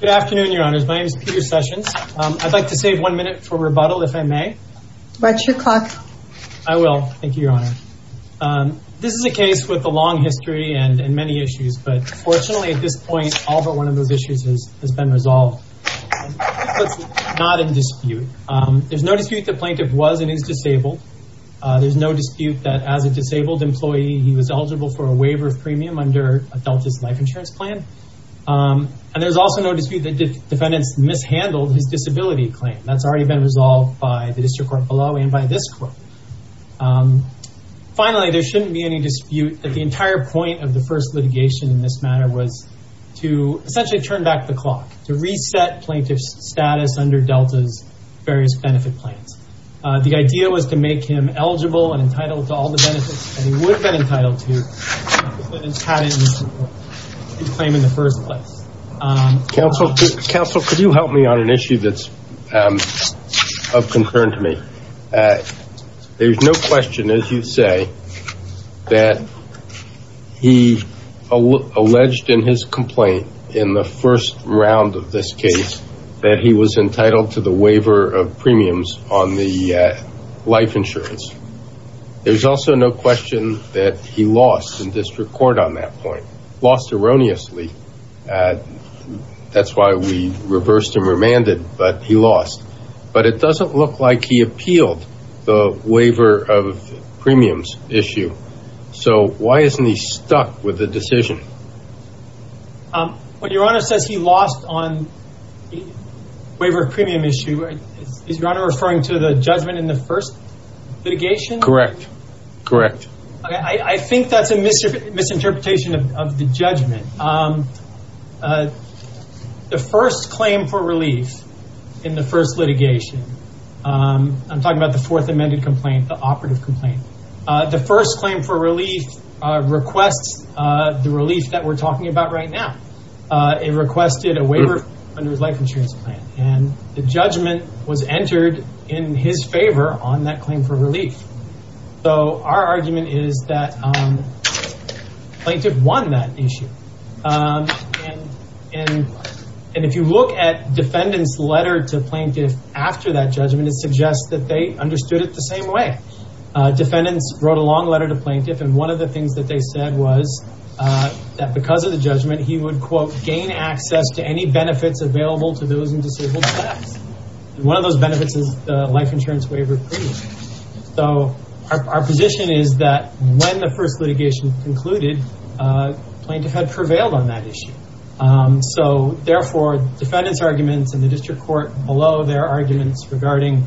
Good afternoon, Your Honors. My name is Peter Sessions. I'd like to save one minute for rebuttal, if I may. What's your clock? I will. Thank you, Your Honor. This is a case with a long history and many issues, but fortunately, at this point, all but one of those issues has been resolved. It's not in dispute. There's no dispute the plaintiff was and is disabled. There's no dispute that as a disabled employee, he was eligible for a waiver of premium under Delta's life insurance plan. And there's also no dispute that defendants mishandled his disability claim. That's already been resolved by the district court below and by this court. Finally, there shouldn't be any dispute that the entire point of the first litigation in this matter was to essentially turn back the clock, to reset plaintiff's status under Delta's various benefit plans. The idea was to make him eligible and entitled to all the benefits that he would have been entitled to, but it's not in his claim in the first place. Counsel, could you help me on an issue that's of concern to me? There's no question, as you say, that he alleged in his complaint in the first round of this case that he was entitled to the waiver of premiums on the life insurance. There's also no question that he lost in district court on that point, lost erroneously. That's why we reversed and remanded, but he lost. But it doesn't look like he appealed the waiver of premiums issue. So why isn't he stuck with the decision? Well, Your Honor says he lost on the waiver of premium issue. Is Your Honor referring to the judgment in the first litigation? Correct. Correct. I think that's a misinterpretation of the judgment. The first claim for relief in the first litigation, I'm talking about the fourth amended complaint, the operative complaint. The first claim for relief requests the relief that we're talking about right now. It requested a waiver under his life insurance plan, and the judgment was entered in his favor on that claim for relief. So our argument is that plaintiff won that issue. And if you look at defendant's letter to plaintiff after that judgment, it suggests that they understood it the same way. Defendants wrote a long letter to plaintiff, and one of the things that they said was that because of the judgment, he would, quote, gain access to any benefits available to those in disabled status. And one of those benefits is life insurance waiver premium. So our position is that when the first litigation concluded, plaintiff had prevailed on that issue. So, therefore, defendants' arguments in the district court below their arguments regarding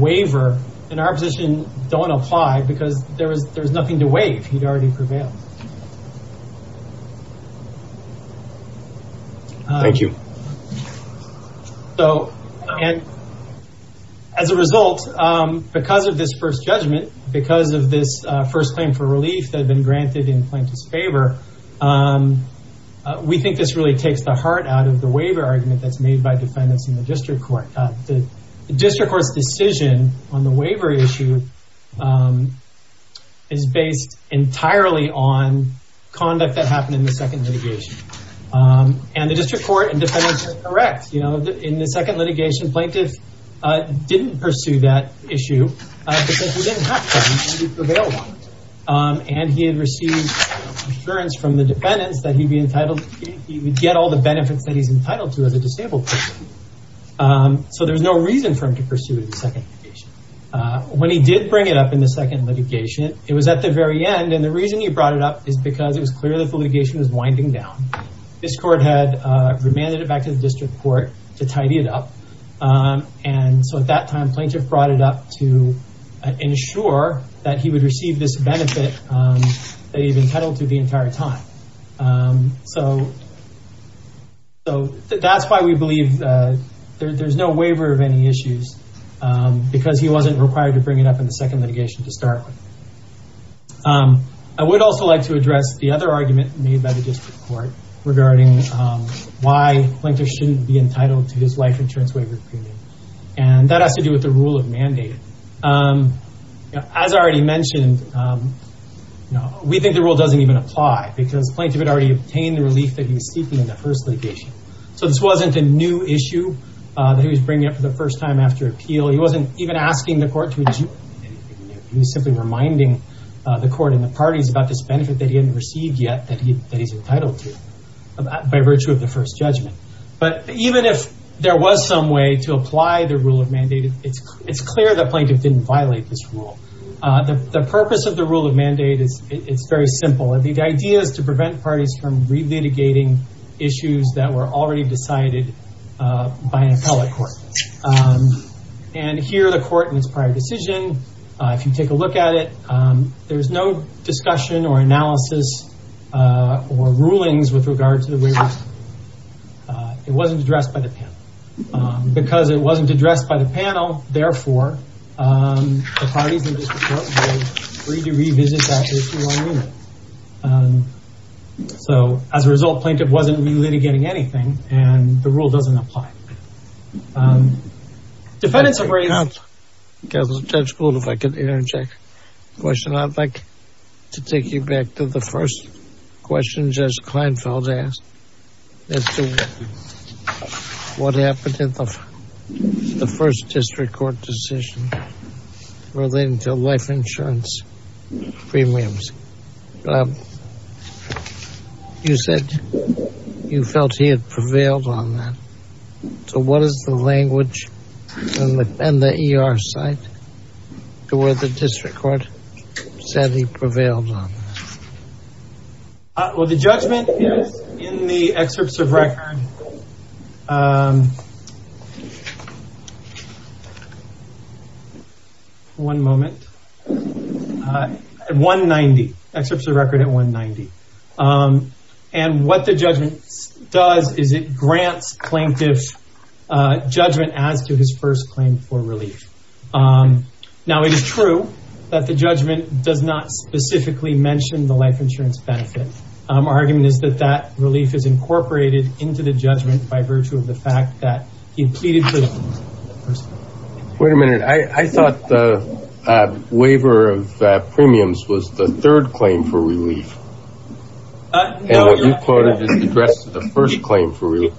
waiver, in our position, don't apply because there was nothing to waive. He'd already prevailed. Thank you. So, as a result, because of this first judgment, because of this first claim for relief that had been granted in plaintiff's favor, we think this really takes the heart out of the waiver argument that's made by defendants in the district court. The district court's decision on the waiver issue is based entirely on conduct that happened in the second litigation. And the district court and defendants are correct. In the second litigation, plaintiff didn't pursue that issue because he didn't have to. He prevailed on it. And he had received assurance from the defendants that he would get all the benefits that he's entitled to as a disabled person. So there's no reason for him to pursue it in the second litigation. When he did bring it up in the second litigation, it was at the very end, and the reason he brought it up is because it was clear that the litigation was winding down. This court had remanded it back to the district court to tidy it up. And so at that time, plaintiff brought it up to ensure that he would receive this benefit that he'd been entitled to the entire time. So that's why we believe there's no waiver of any issues, because he wasn't required to bring it up in the second litigation to start with. I would also like to address the other argument made by the district court regarding why plaintiff shouldn't be entitled to his life insurance waiver premium. And that has to do with the rule of mandate. As I already mentioned, we think the rule doesn't even apply, because plaintiff had already obtained the relief that he was seeking in the first litigation. So this wasn't a new issue that he was bringing up for the first time after appeal. He wasn't even asking the court to adjourn anything. He was simply reminding the court and the parties about this benefit that he hadn't received yet that he's entitled to by virtue of the first judgment. But even if there was some way to apply the rule of mandate, it's clear that plaintiff didn't violate this rule. The purpose of the rule of mandate is very simple. The idea is to prevent parties from re-litigating issues that were already decided by an appellate court. And here the court in its prior decision, if you take a look at it, there's no discussion or analysis or rulings with regard to the waiver. It wasn't addressed by the panel. Because it wasn't addressed by the panel, therefore, the parties in this report were free to revisit that issue on remit. So as a result, plaintiff wasn't re-litigating anything, and the rule doesn't apply. Defendants have raised... Judge Gould, if I could interject a question. I'd like to take you back to the first question Judge Kleinfeld asked as to what happened in the first district court decision relating to life insurance premiums. You said you felt he had prevailed on that. So what is the language and the ER side to where the district court said he prevailed on that? Well, the judgment is in the excerpts of record... One moment. 190. Excerpts of record at 190. And what the judgment does is it grants plaintiff judgment as to his first claim for relief. Now, it is true that the judgment does not specifically mention the life insurance benefit. Our argument is that that relief is incorporated into the judgment by virtue of the fact that he pleaded... Wait a minute. I thought the waiver of premiums was the third claim for relief. And what you quoted is addressed to the first claim for relief.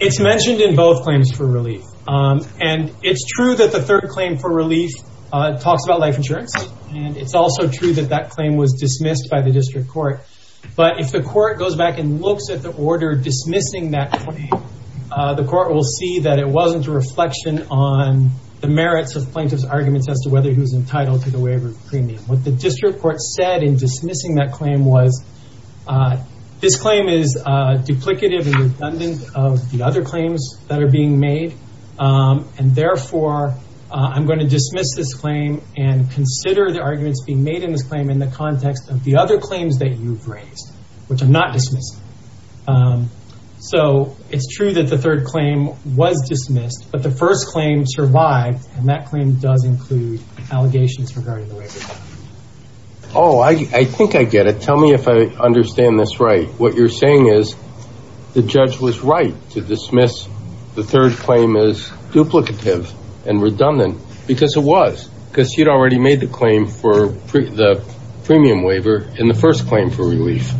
It's mentioned in both claims for relief. And it's true that the third claim for relief talks about life insurance, and it's also true that that claim was dismissed by the district court. But if the court goes back and looks at the order dismissing that claim, the court will see that it wasn't a reflection on the merits of plaintiff's arguments as to whether he was entitled to the waiver of premium. What the district court said in dismissing that claim was, this claim is duplicative and redundant of the other claims that are being made. And therefore, I'm going to dismiss this claim and consider the arguments being made in this claim in the context of the other claims that you've raised, which I'm not dismissing. So it's true that the third claim was dismissed, but the first claim survived, and that claim does include allegations regarding the waiver. Oh, I think I get it. Tell me if I understand this right. What you're saying is the judge was right to dismiss the third claim as duplicative and redundant because it was, because she'd already made the claim for the premium waiver in the first claim for relief.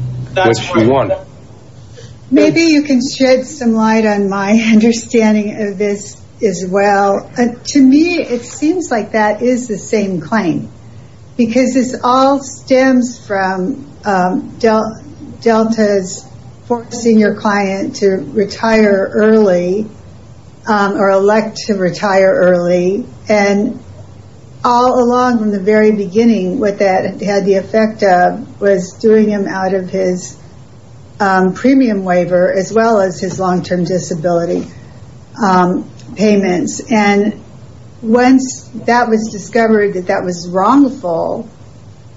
Maybe you can shed some light on my understanding of this as well. To me, it seems like that is the same claim because this all stems from Delta's forcing your client to retire early or elect to retire early. And all along from the very beginning, what that had the effect of was doing him out of his premium waiver as well as his long-term disability payments. And once that was discovered that that was wrongful,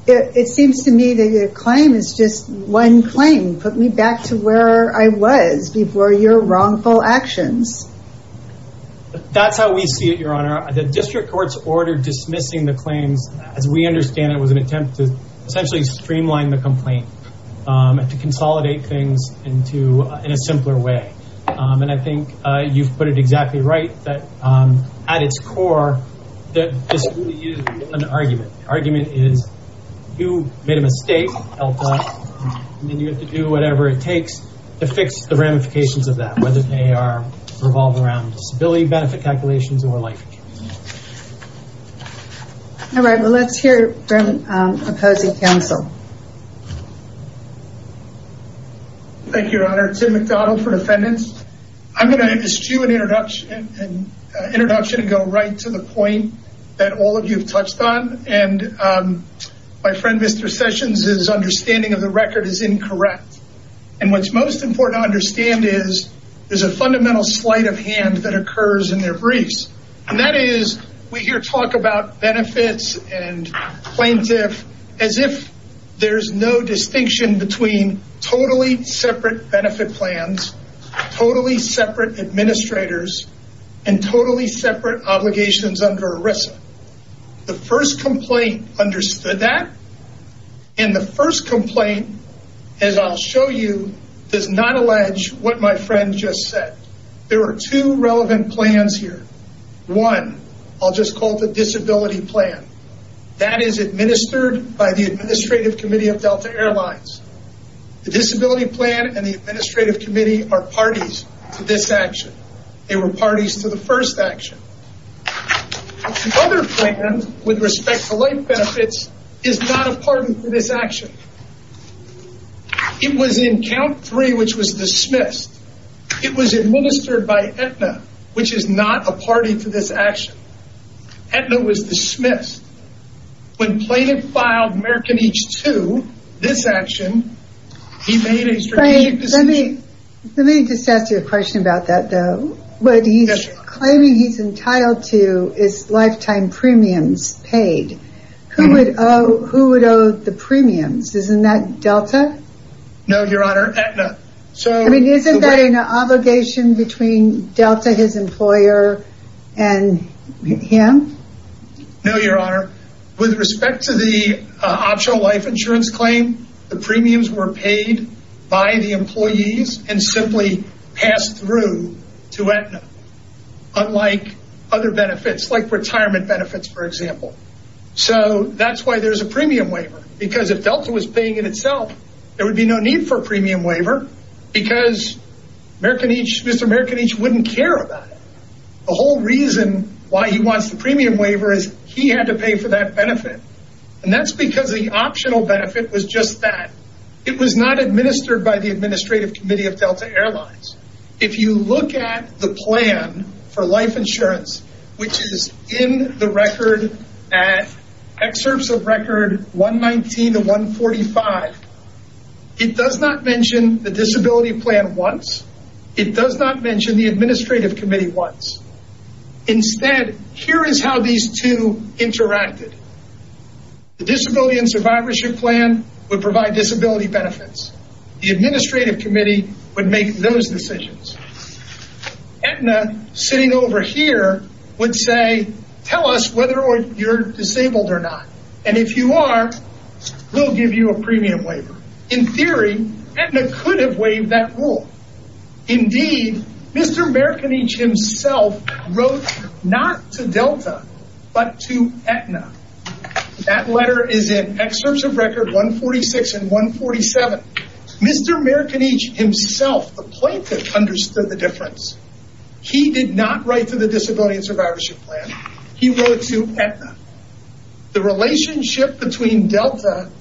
it seems to me that your claim is just one claim. Put me back to where I was before your wrongful actions. That's how we see it, Your Honor. The district court's order dismissing the claims, as we understand it, was an attempt to essentially streamline the complaint and to consolidate things in a simpler way. And I think you've put it exactly right that at its core, this is an argument. The argument is you made a mistake, Delta, and you have to do whatever it takes to fix the ramifications of that, whether they revolve around disability benefit calculations or life insurance. All right, well, let's hear from opposing counsel. Thank you, Your Honor. Tim McDonald for defendants. I'm going to eschew an introduction and go right to the point that all of you have touched on. And my friend, Mr. Sessions, his understanding of the record is incorrect. And what's most important to understand is there's a fundamental sleight of hand that occurs in their briefs. And that is we hear talk about benefits and plaintiff as if there's no distinction between totally separate benefit plans, totally separate administrators, and totally separate obligations under ERISA. The first complaint understood that. And the first complaint, as I'll show you, does not allege what my friend just said. There are two relevant plans here. One, I'll just call it the disability plan. That is administered by the Administrative Committee of Delta Airlines. The disability plan and the Administrative Committee are parties to this action. They were parties to the first action. The other plan, with respect to life benefits, is not a party to this action. It was in count three, which was dismissed. It was administered by Aetna, which is not a party to this action. Aetna was dismissed. When Plaintiff filed American Each II, this action, he made a strategic decision. Let me just ask you a question about that, though. What he's claiming he's entitled to is lifetime premiums paid. Who would owe the premiums? Isn't that Delta? No, Your Honor, Aetna. I mean, isn't that an obligation between Delta, his employer, and him? No, Your Honor. With respect to the optional life insurance claim, the premiums were paid by the employees and simply passed through to Aetna, unlike other benefits, like retirement benefits, for example. So that's why there's a premium waiver. Because if Delta was paying in itself, there would be no need for a premium waiver because Mr. American Each wouldn't care about it. The whole reason why he wants the premium waiver is he had to pay for that benefit. And that's because the optional benefit was just that. It was not administered by the Administrative Committee of Delta Airlines. If you look at the plan for life insurance, which is in the record at Excerpts of Record 119 to 145, it does not mention the disability plan once. It does not mention the Administrative Committee once. Instead, here is how these two interacted. The Disability and Survivorship Plan would provide disability benefits. The Administrative Committee would make those decisions. Aetna, sitting over here, would say, tell us whether you're disabled or not. And if you are, we'll give you a premium waiver. In theory, Aetna could have waived that rule. Indeed, Mr. American Each himself wrote not to Delta, but to Aetna. That letter is in Excerpts of Record 146 and 147. Mr. American Each himself, the plaintiff, understood the difference. He did not write to the Disability and Survivorship Plan. He wrote to Aetna. The relationship between Delta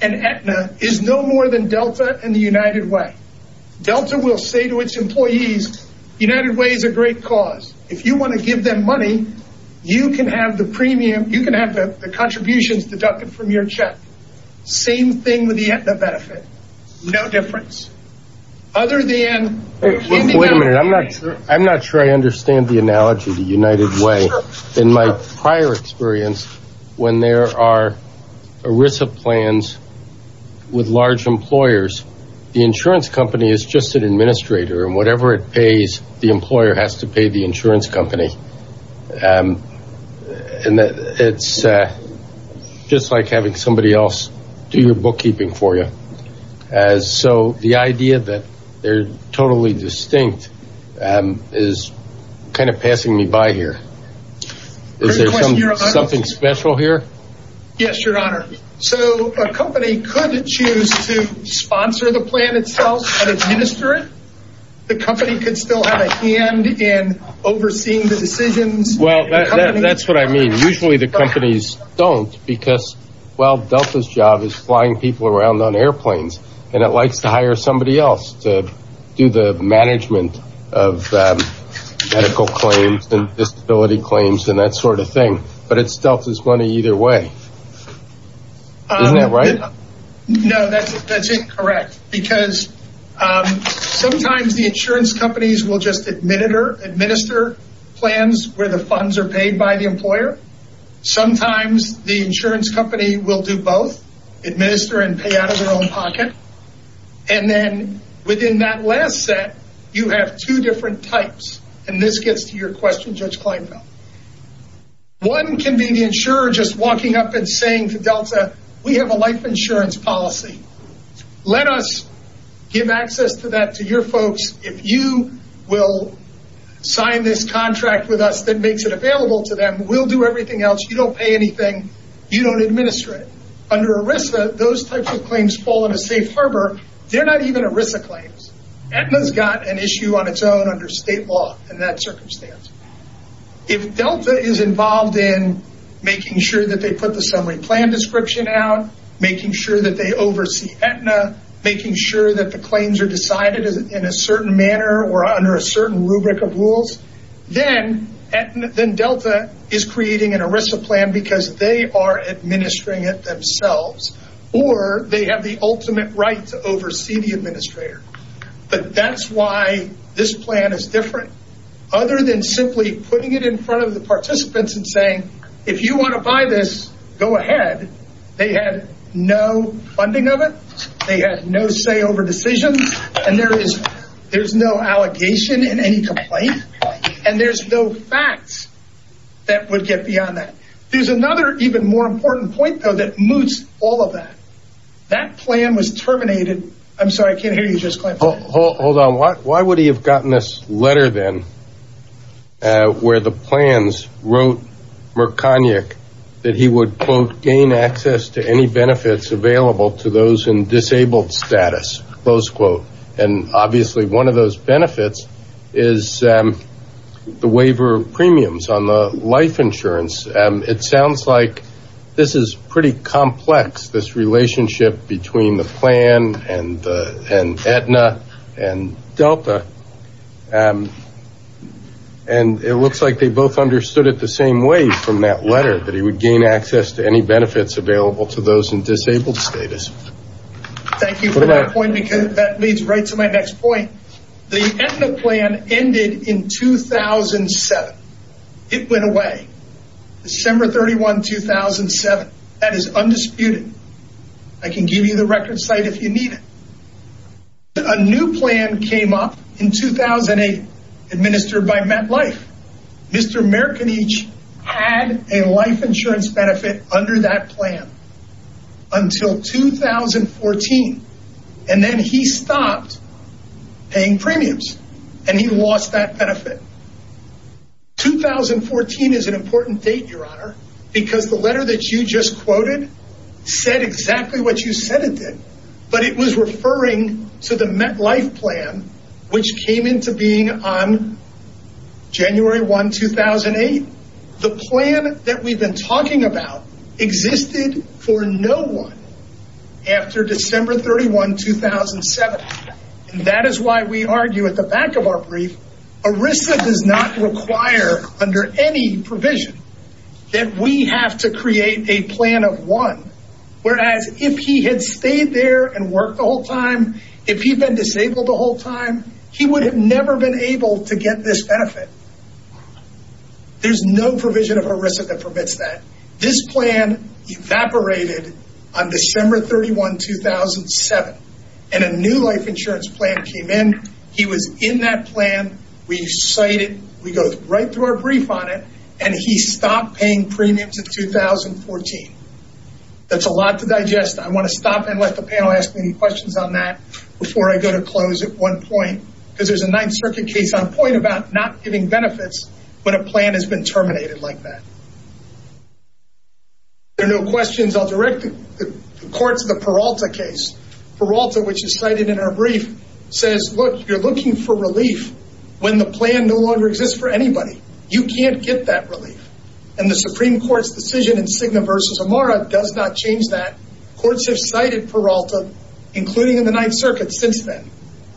and Aetna is no more than Delta and the United Way. Delta will say to its employees, United Way is a great cause. If you want to give them money, you can have the contributions deducted from your check. Same thing with the Aetna benefit. No difference. Wait a minute. I'm not sure I understand the analogy to United Way. In my prior experience, when there are ERISA plans with large employers, the insurance company is just an administrator, and whatever it pays, the employer has to pay the insurance company. It's just like having somebody else do your bookkeeping for you. So the idea that they're totally distinct is kind of passing me by here. Is there something special here? Yes, Your Honor. So a company could choose to sponsor the plan itself and administer it. The company could still have a hand in overseeing the decisions. Well, that's what I mean. Usually the companies don't because, well, Delta's job is flying people around on airplanes, and it likes to hire somebody else to do the management of medical claims and disability claims and that sort of thing. But it's Delta's money either way. Isn't that right? No, that's incorrect. Because sometimes the insurance companies will just administer plans where the funds are paid by the employer. Sometimes the insurance company will do both, administer and pay out of their own pocket. And then within that last set, you have two different types. And this gets to your question, Judge Kleinfeld. One can be the insurer just walking up and saying to Delta, we have a life insurance policy. Let us give access to that to your folks. If you will sign this contract with us that makes it available to them, we'll do everything else. You don't pay anything. You don't administer it. Under ERISA, those types of claims fall into safe harbor. They're not even ERISA claims. Aetna's got an issue on its own under state law in that circumstance. If Delta is involved in making sure that they put the summary plan description out, making sure that they oversee Aetna, making sure that the claims are decided in a certain manner or under a certain rubric of rules, then Delta is creating an ERISA plan because they are administering it themselves or they have the ultimate right to oversee the administrator. But that's why this plan is different, other than simply putting it in front of the participants and saying, if you want to buy this, go ahead. They had no funding of it. They had no say over decisions. And there's no allegation in any complaint. And there's no facts that would get beyond that. There's another even more important point, though, that moots all of that. That plan was terminated. I'm sorry, I can't hear you. Just clamp down. Hold on. Why would he have gotten this letter, then, where the plans wrote Merconiak that he would, quote, gain access to any benefits available to those in disabled status, close quote. And obviously one of those benefits is the waiver of premiums on the life insurance. It sounds like this is pretty complex, this relationship between the plan and Aetna and Delta. And it looks like they both understood it the same way from that letter, that he would gain access to any benefits available to those in disabled status. Thank you for that point, because that leads right to my next point. The Aetna plan ended in 2007. It went away. December 31, 2007. That is undisputed. I can give you the record site if you need it. A new plan came up in 2008 administered by MetLife. Mr. Merconiak had a life insurance benefit under that plan until 2014. And then he stopped paying premiums. And he lost that benefit. 2014 is an important date, Your Honor, because the letter that you just quoted said exactly what you said it did. But it was referring to the MetLife plan, which came into being on January 1, 2008. The plan that we've been talking about existed for no one after December 31, 2007. And that is why we argue at the back of our brief, ERISA does not require under any provision that we have to create a plan of one. Whereas if he had stayed there and worked the whole time, if he'd been disabled the whole time, he would have never been able to get this benefit. There's no provision of ERISA that permits that. This plan evaporated on December 31, 2007. And a new life insurance plan came in. He was in that plan. We cite it. We go right through our brief on it. And he stopped paying premiums in 2014. That's a lot to digest. I want to stop and let the panel ask any questions on that before I go to close at one point. Because there's a Ninth Circuit case on point about not giving benefits when a plan has been terminated like that. If there are no questions, I'll direct the courts to the Peralta case. Peralta, which is cited in our brief, says, look, you're looking for relief when the plan no longer exists for anybody. You can't get that relief. And the Supreme Court's decision in Cigna v. Amara does not change that. Courts have cited Peralta, including in the Ninth Circuit, since then.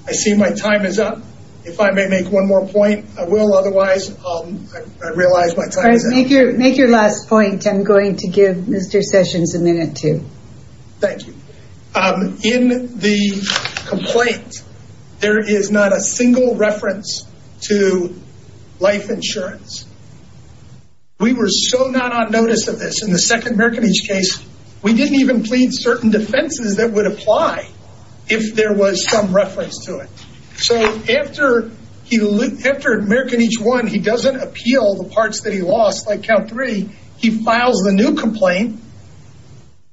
I see my time is up. If I may make one more point, I will. Otherwise, I realize my time is up. Make your last point. I'm going to give Mr. Sessions a minute, too. Thank you. In the complaint, there is not a single reference to life insurance. We were so not on notice of this. In the second Merkenich case, we didn't even plead certain defenses that would apply if there was some reference to it. So after Merkenich won, he doesn't appeal the parts that he lost, like count three. He files a new complaint,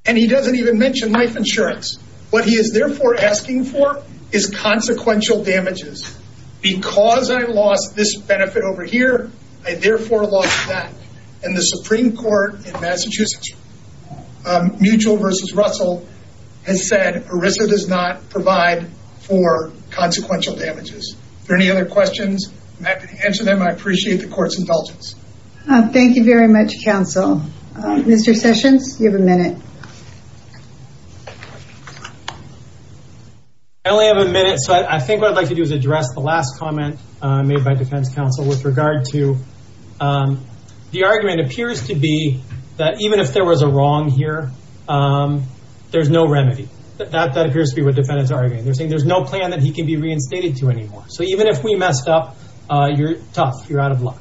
and he doesn't even mention life insurance. What he is, therefore, asking for is consequential damages. Because I lost this benefit over here, I, therefore, lost that. And the Supreme Court in Massachusetts, Mutual v. Russell, has said ERISA does not provide for consequential damages. Are there any other questions? I'm happy to answer them. I appreciate the court's indulgence. Thank you very much, counsel. Mr. Sessions, you have a minute. I only have a minute. So I think what I'd like to do is address the last comment made by defense counsel with regard to the argument appears to be that even if there was a wrong here, there's no remedy. That appears to be what defendants are arguing. They're saying there's no plan that he can be reinstated to anymore. So even if we messed up, you're tough. You're out of luck.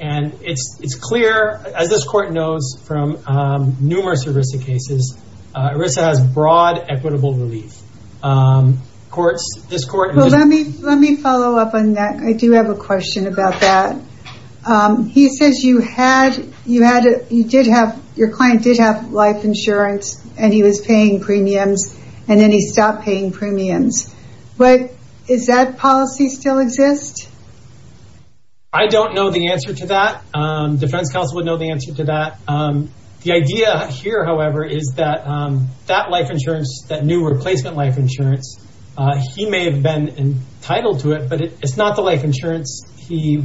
And it's clear, as this court knows from numerous ERISA cases, ERISA has broad equitable relief. Let me follow up on that. I do have a question about that. He says your client did have life insurance, and he was paying premiums, and then he stopped paying premiums. Does that policy still exist? I don't know the answer to that. Defense counsel would know the answer to that. The idea here, however, is that that life insurance, that new replacement life insurance, he may have been entitled to it, but it's not the life insurance he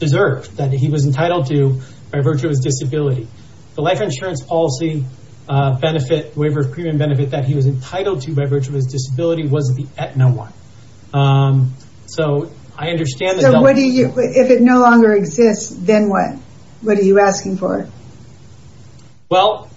deserved, that he was entitled to by virtue of his disability. The life insurance policy benefit, waiver of premium benefit that he was entitled to by virtue of his disability, wasn't at no one. So I understand that. So if it no longer exists, then what? What are you asking for? Well,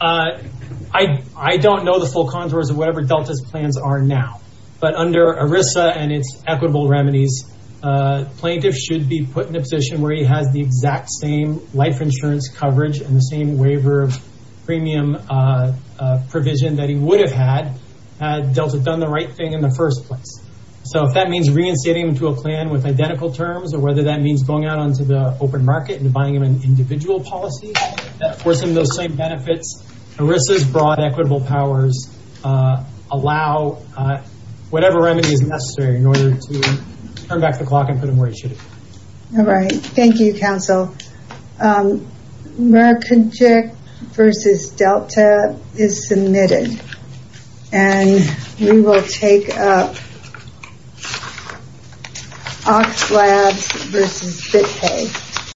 I don't know the full contours of whatever Delta's plans are now. But under ERISA and its equitable remedies, plaintiffs should be put in a position where he has the exact same life insurance coverage and the same waiver of premium provision that he would have had had Delta done the right thing in the first place. So if that means reinstating him to a plan with identical terms, or whether that means going out onto the open market and buying him an individual policy, forcing those same benefits, ERISA's broad equitable powers allow whatever remedy is necessary in order to turn back the clock and put him where he should be. All right. Thank you, counsel. So, Merikinchik v. Delta is submitted. And we will take up Oxlabs v. BitPay.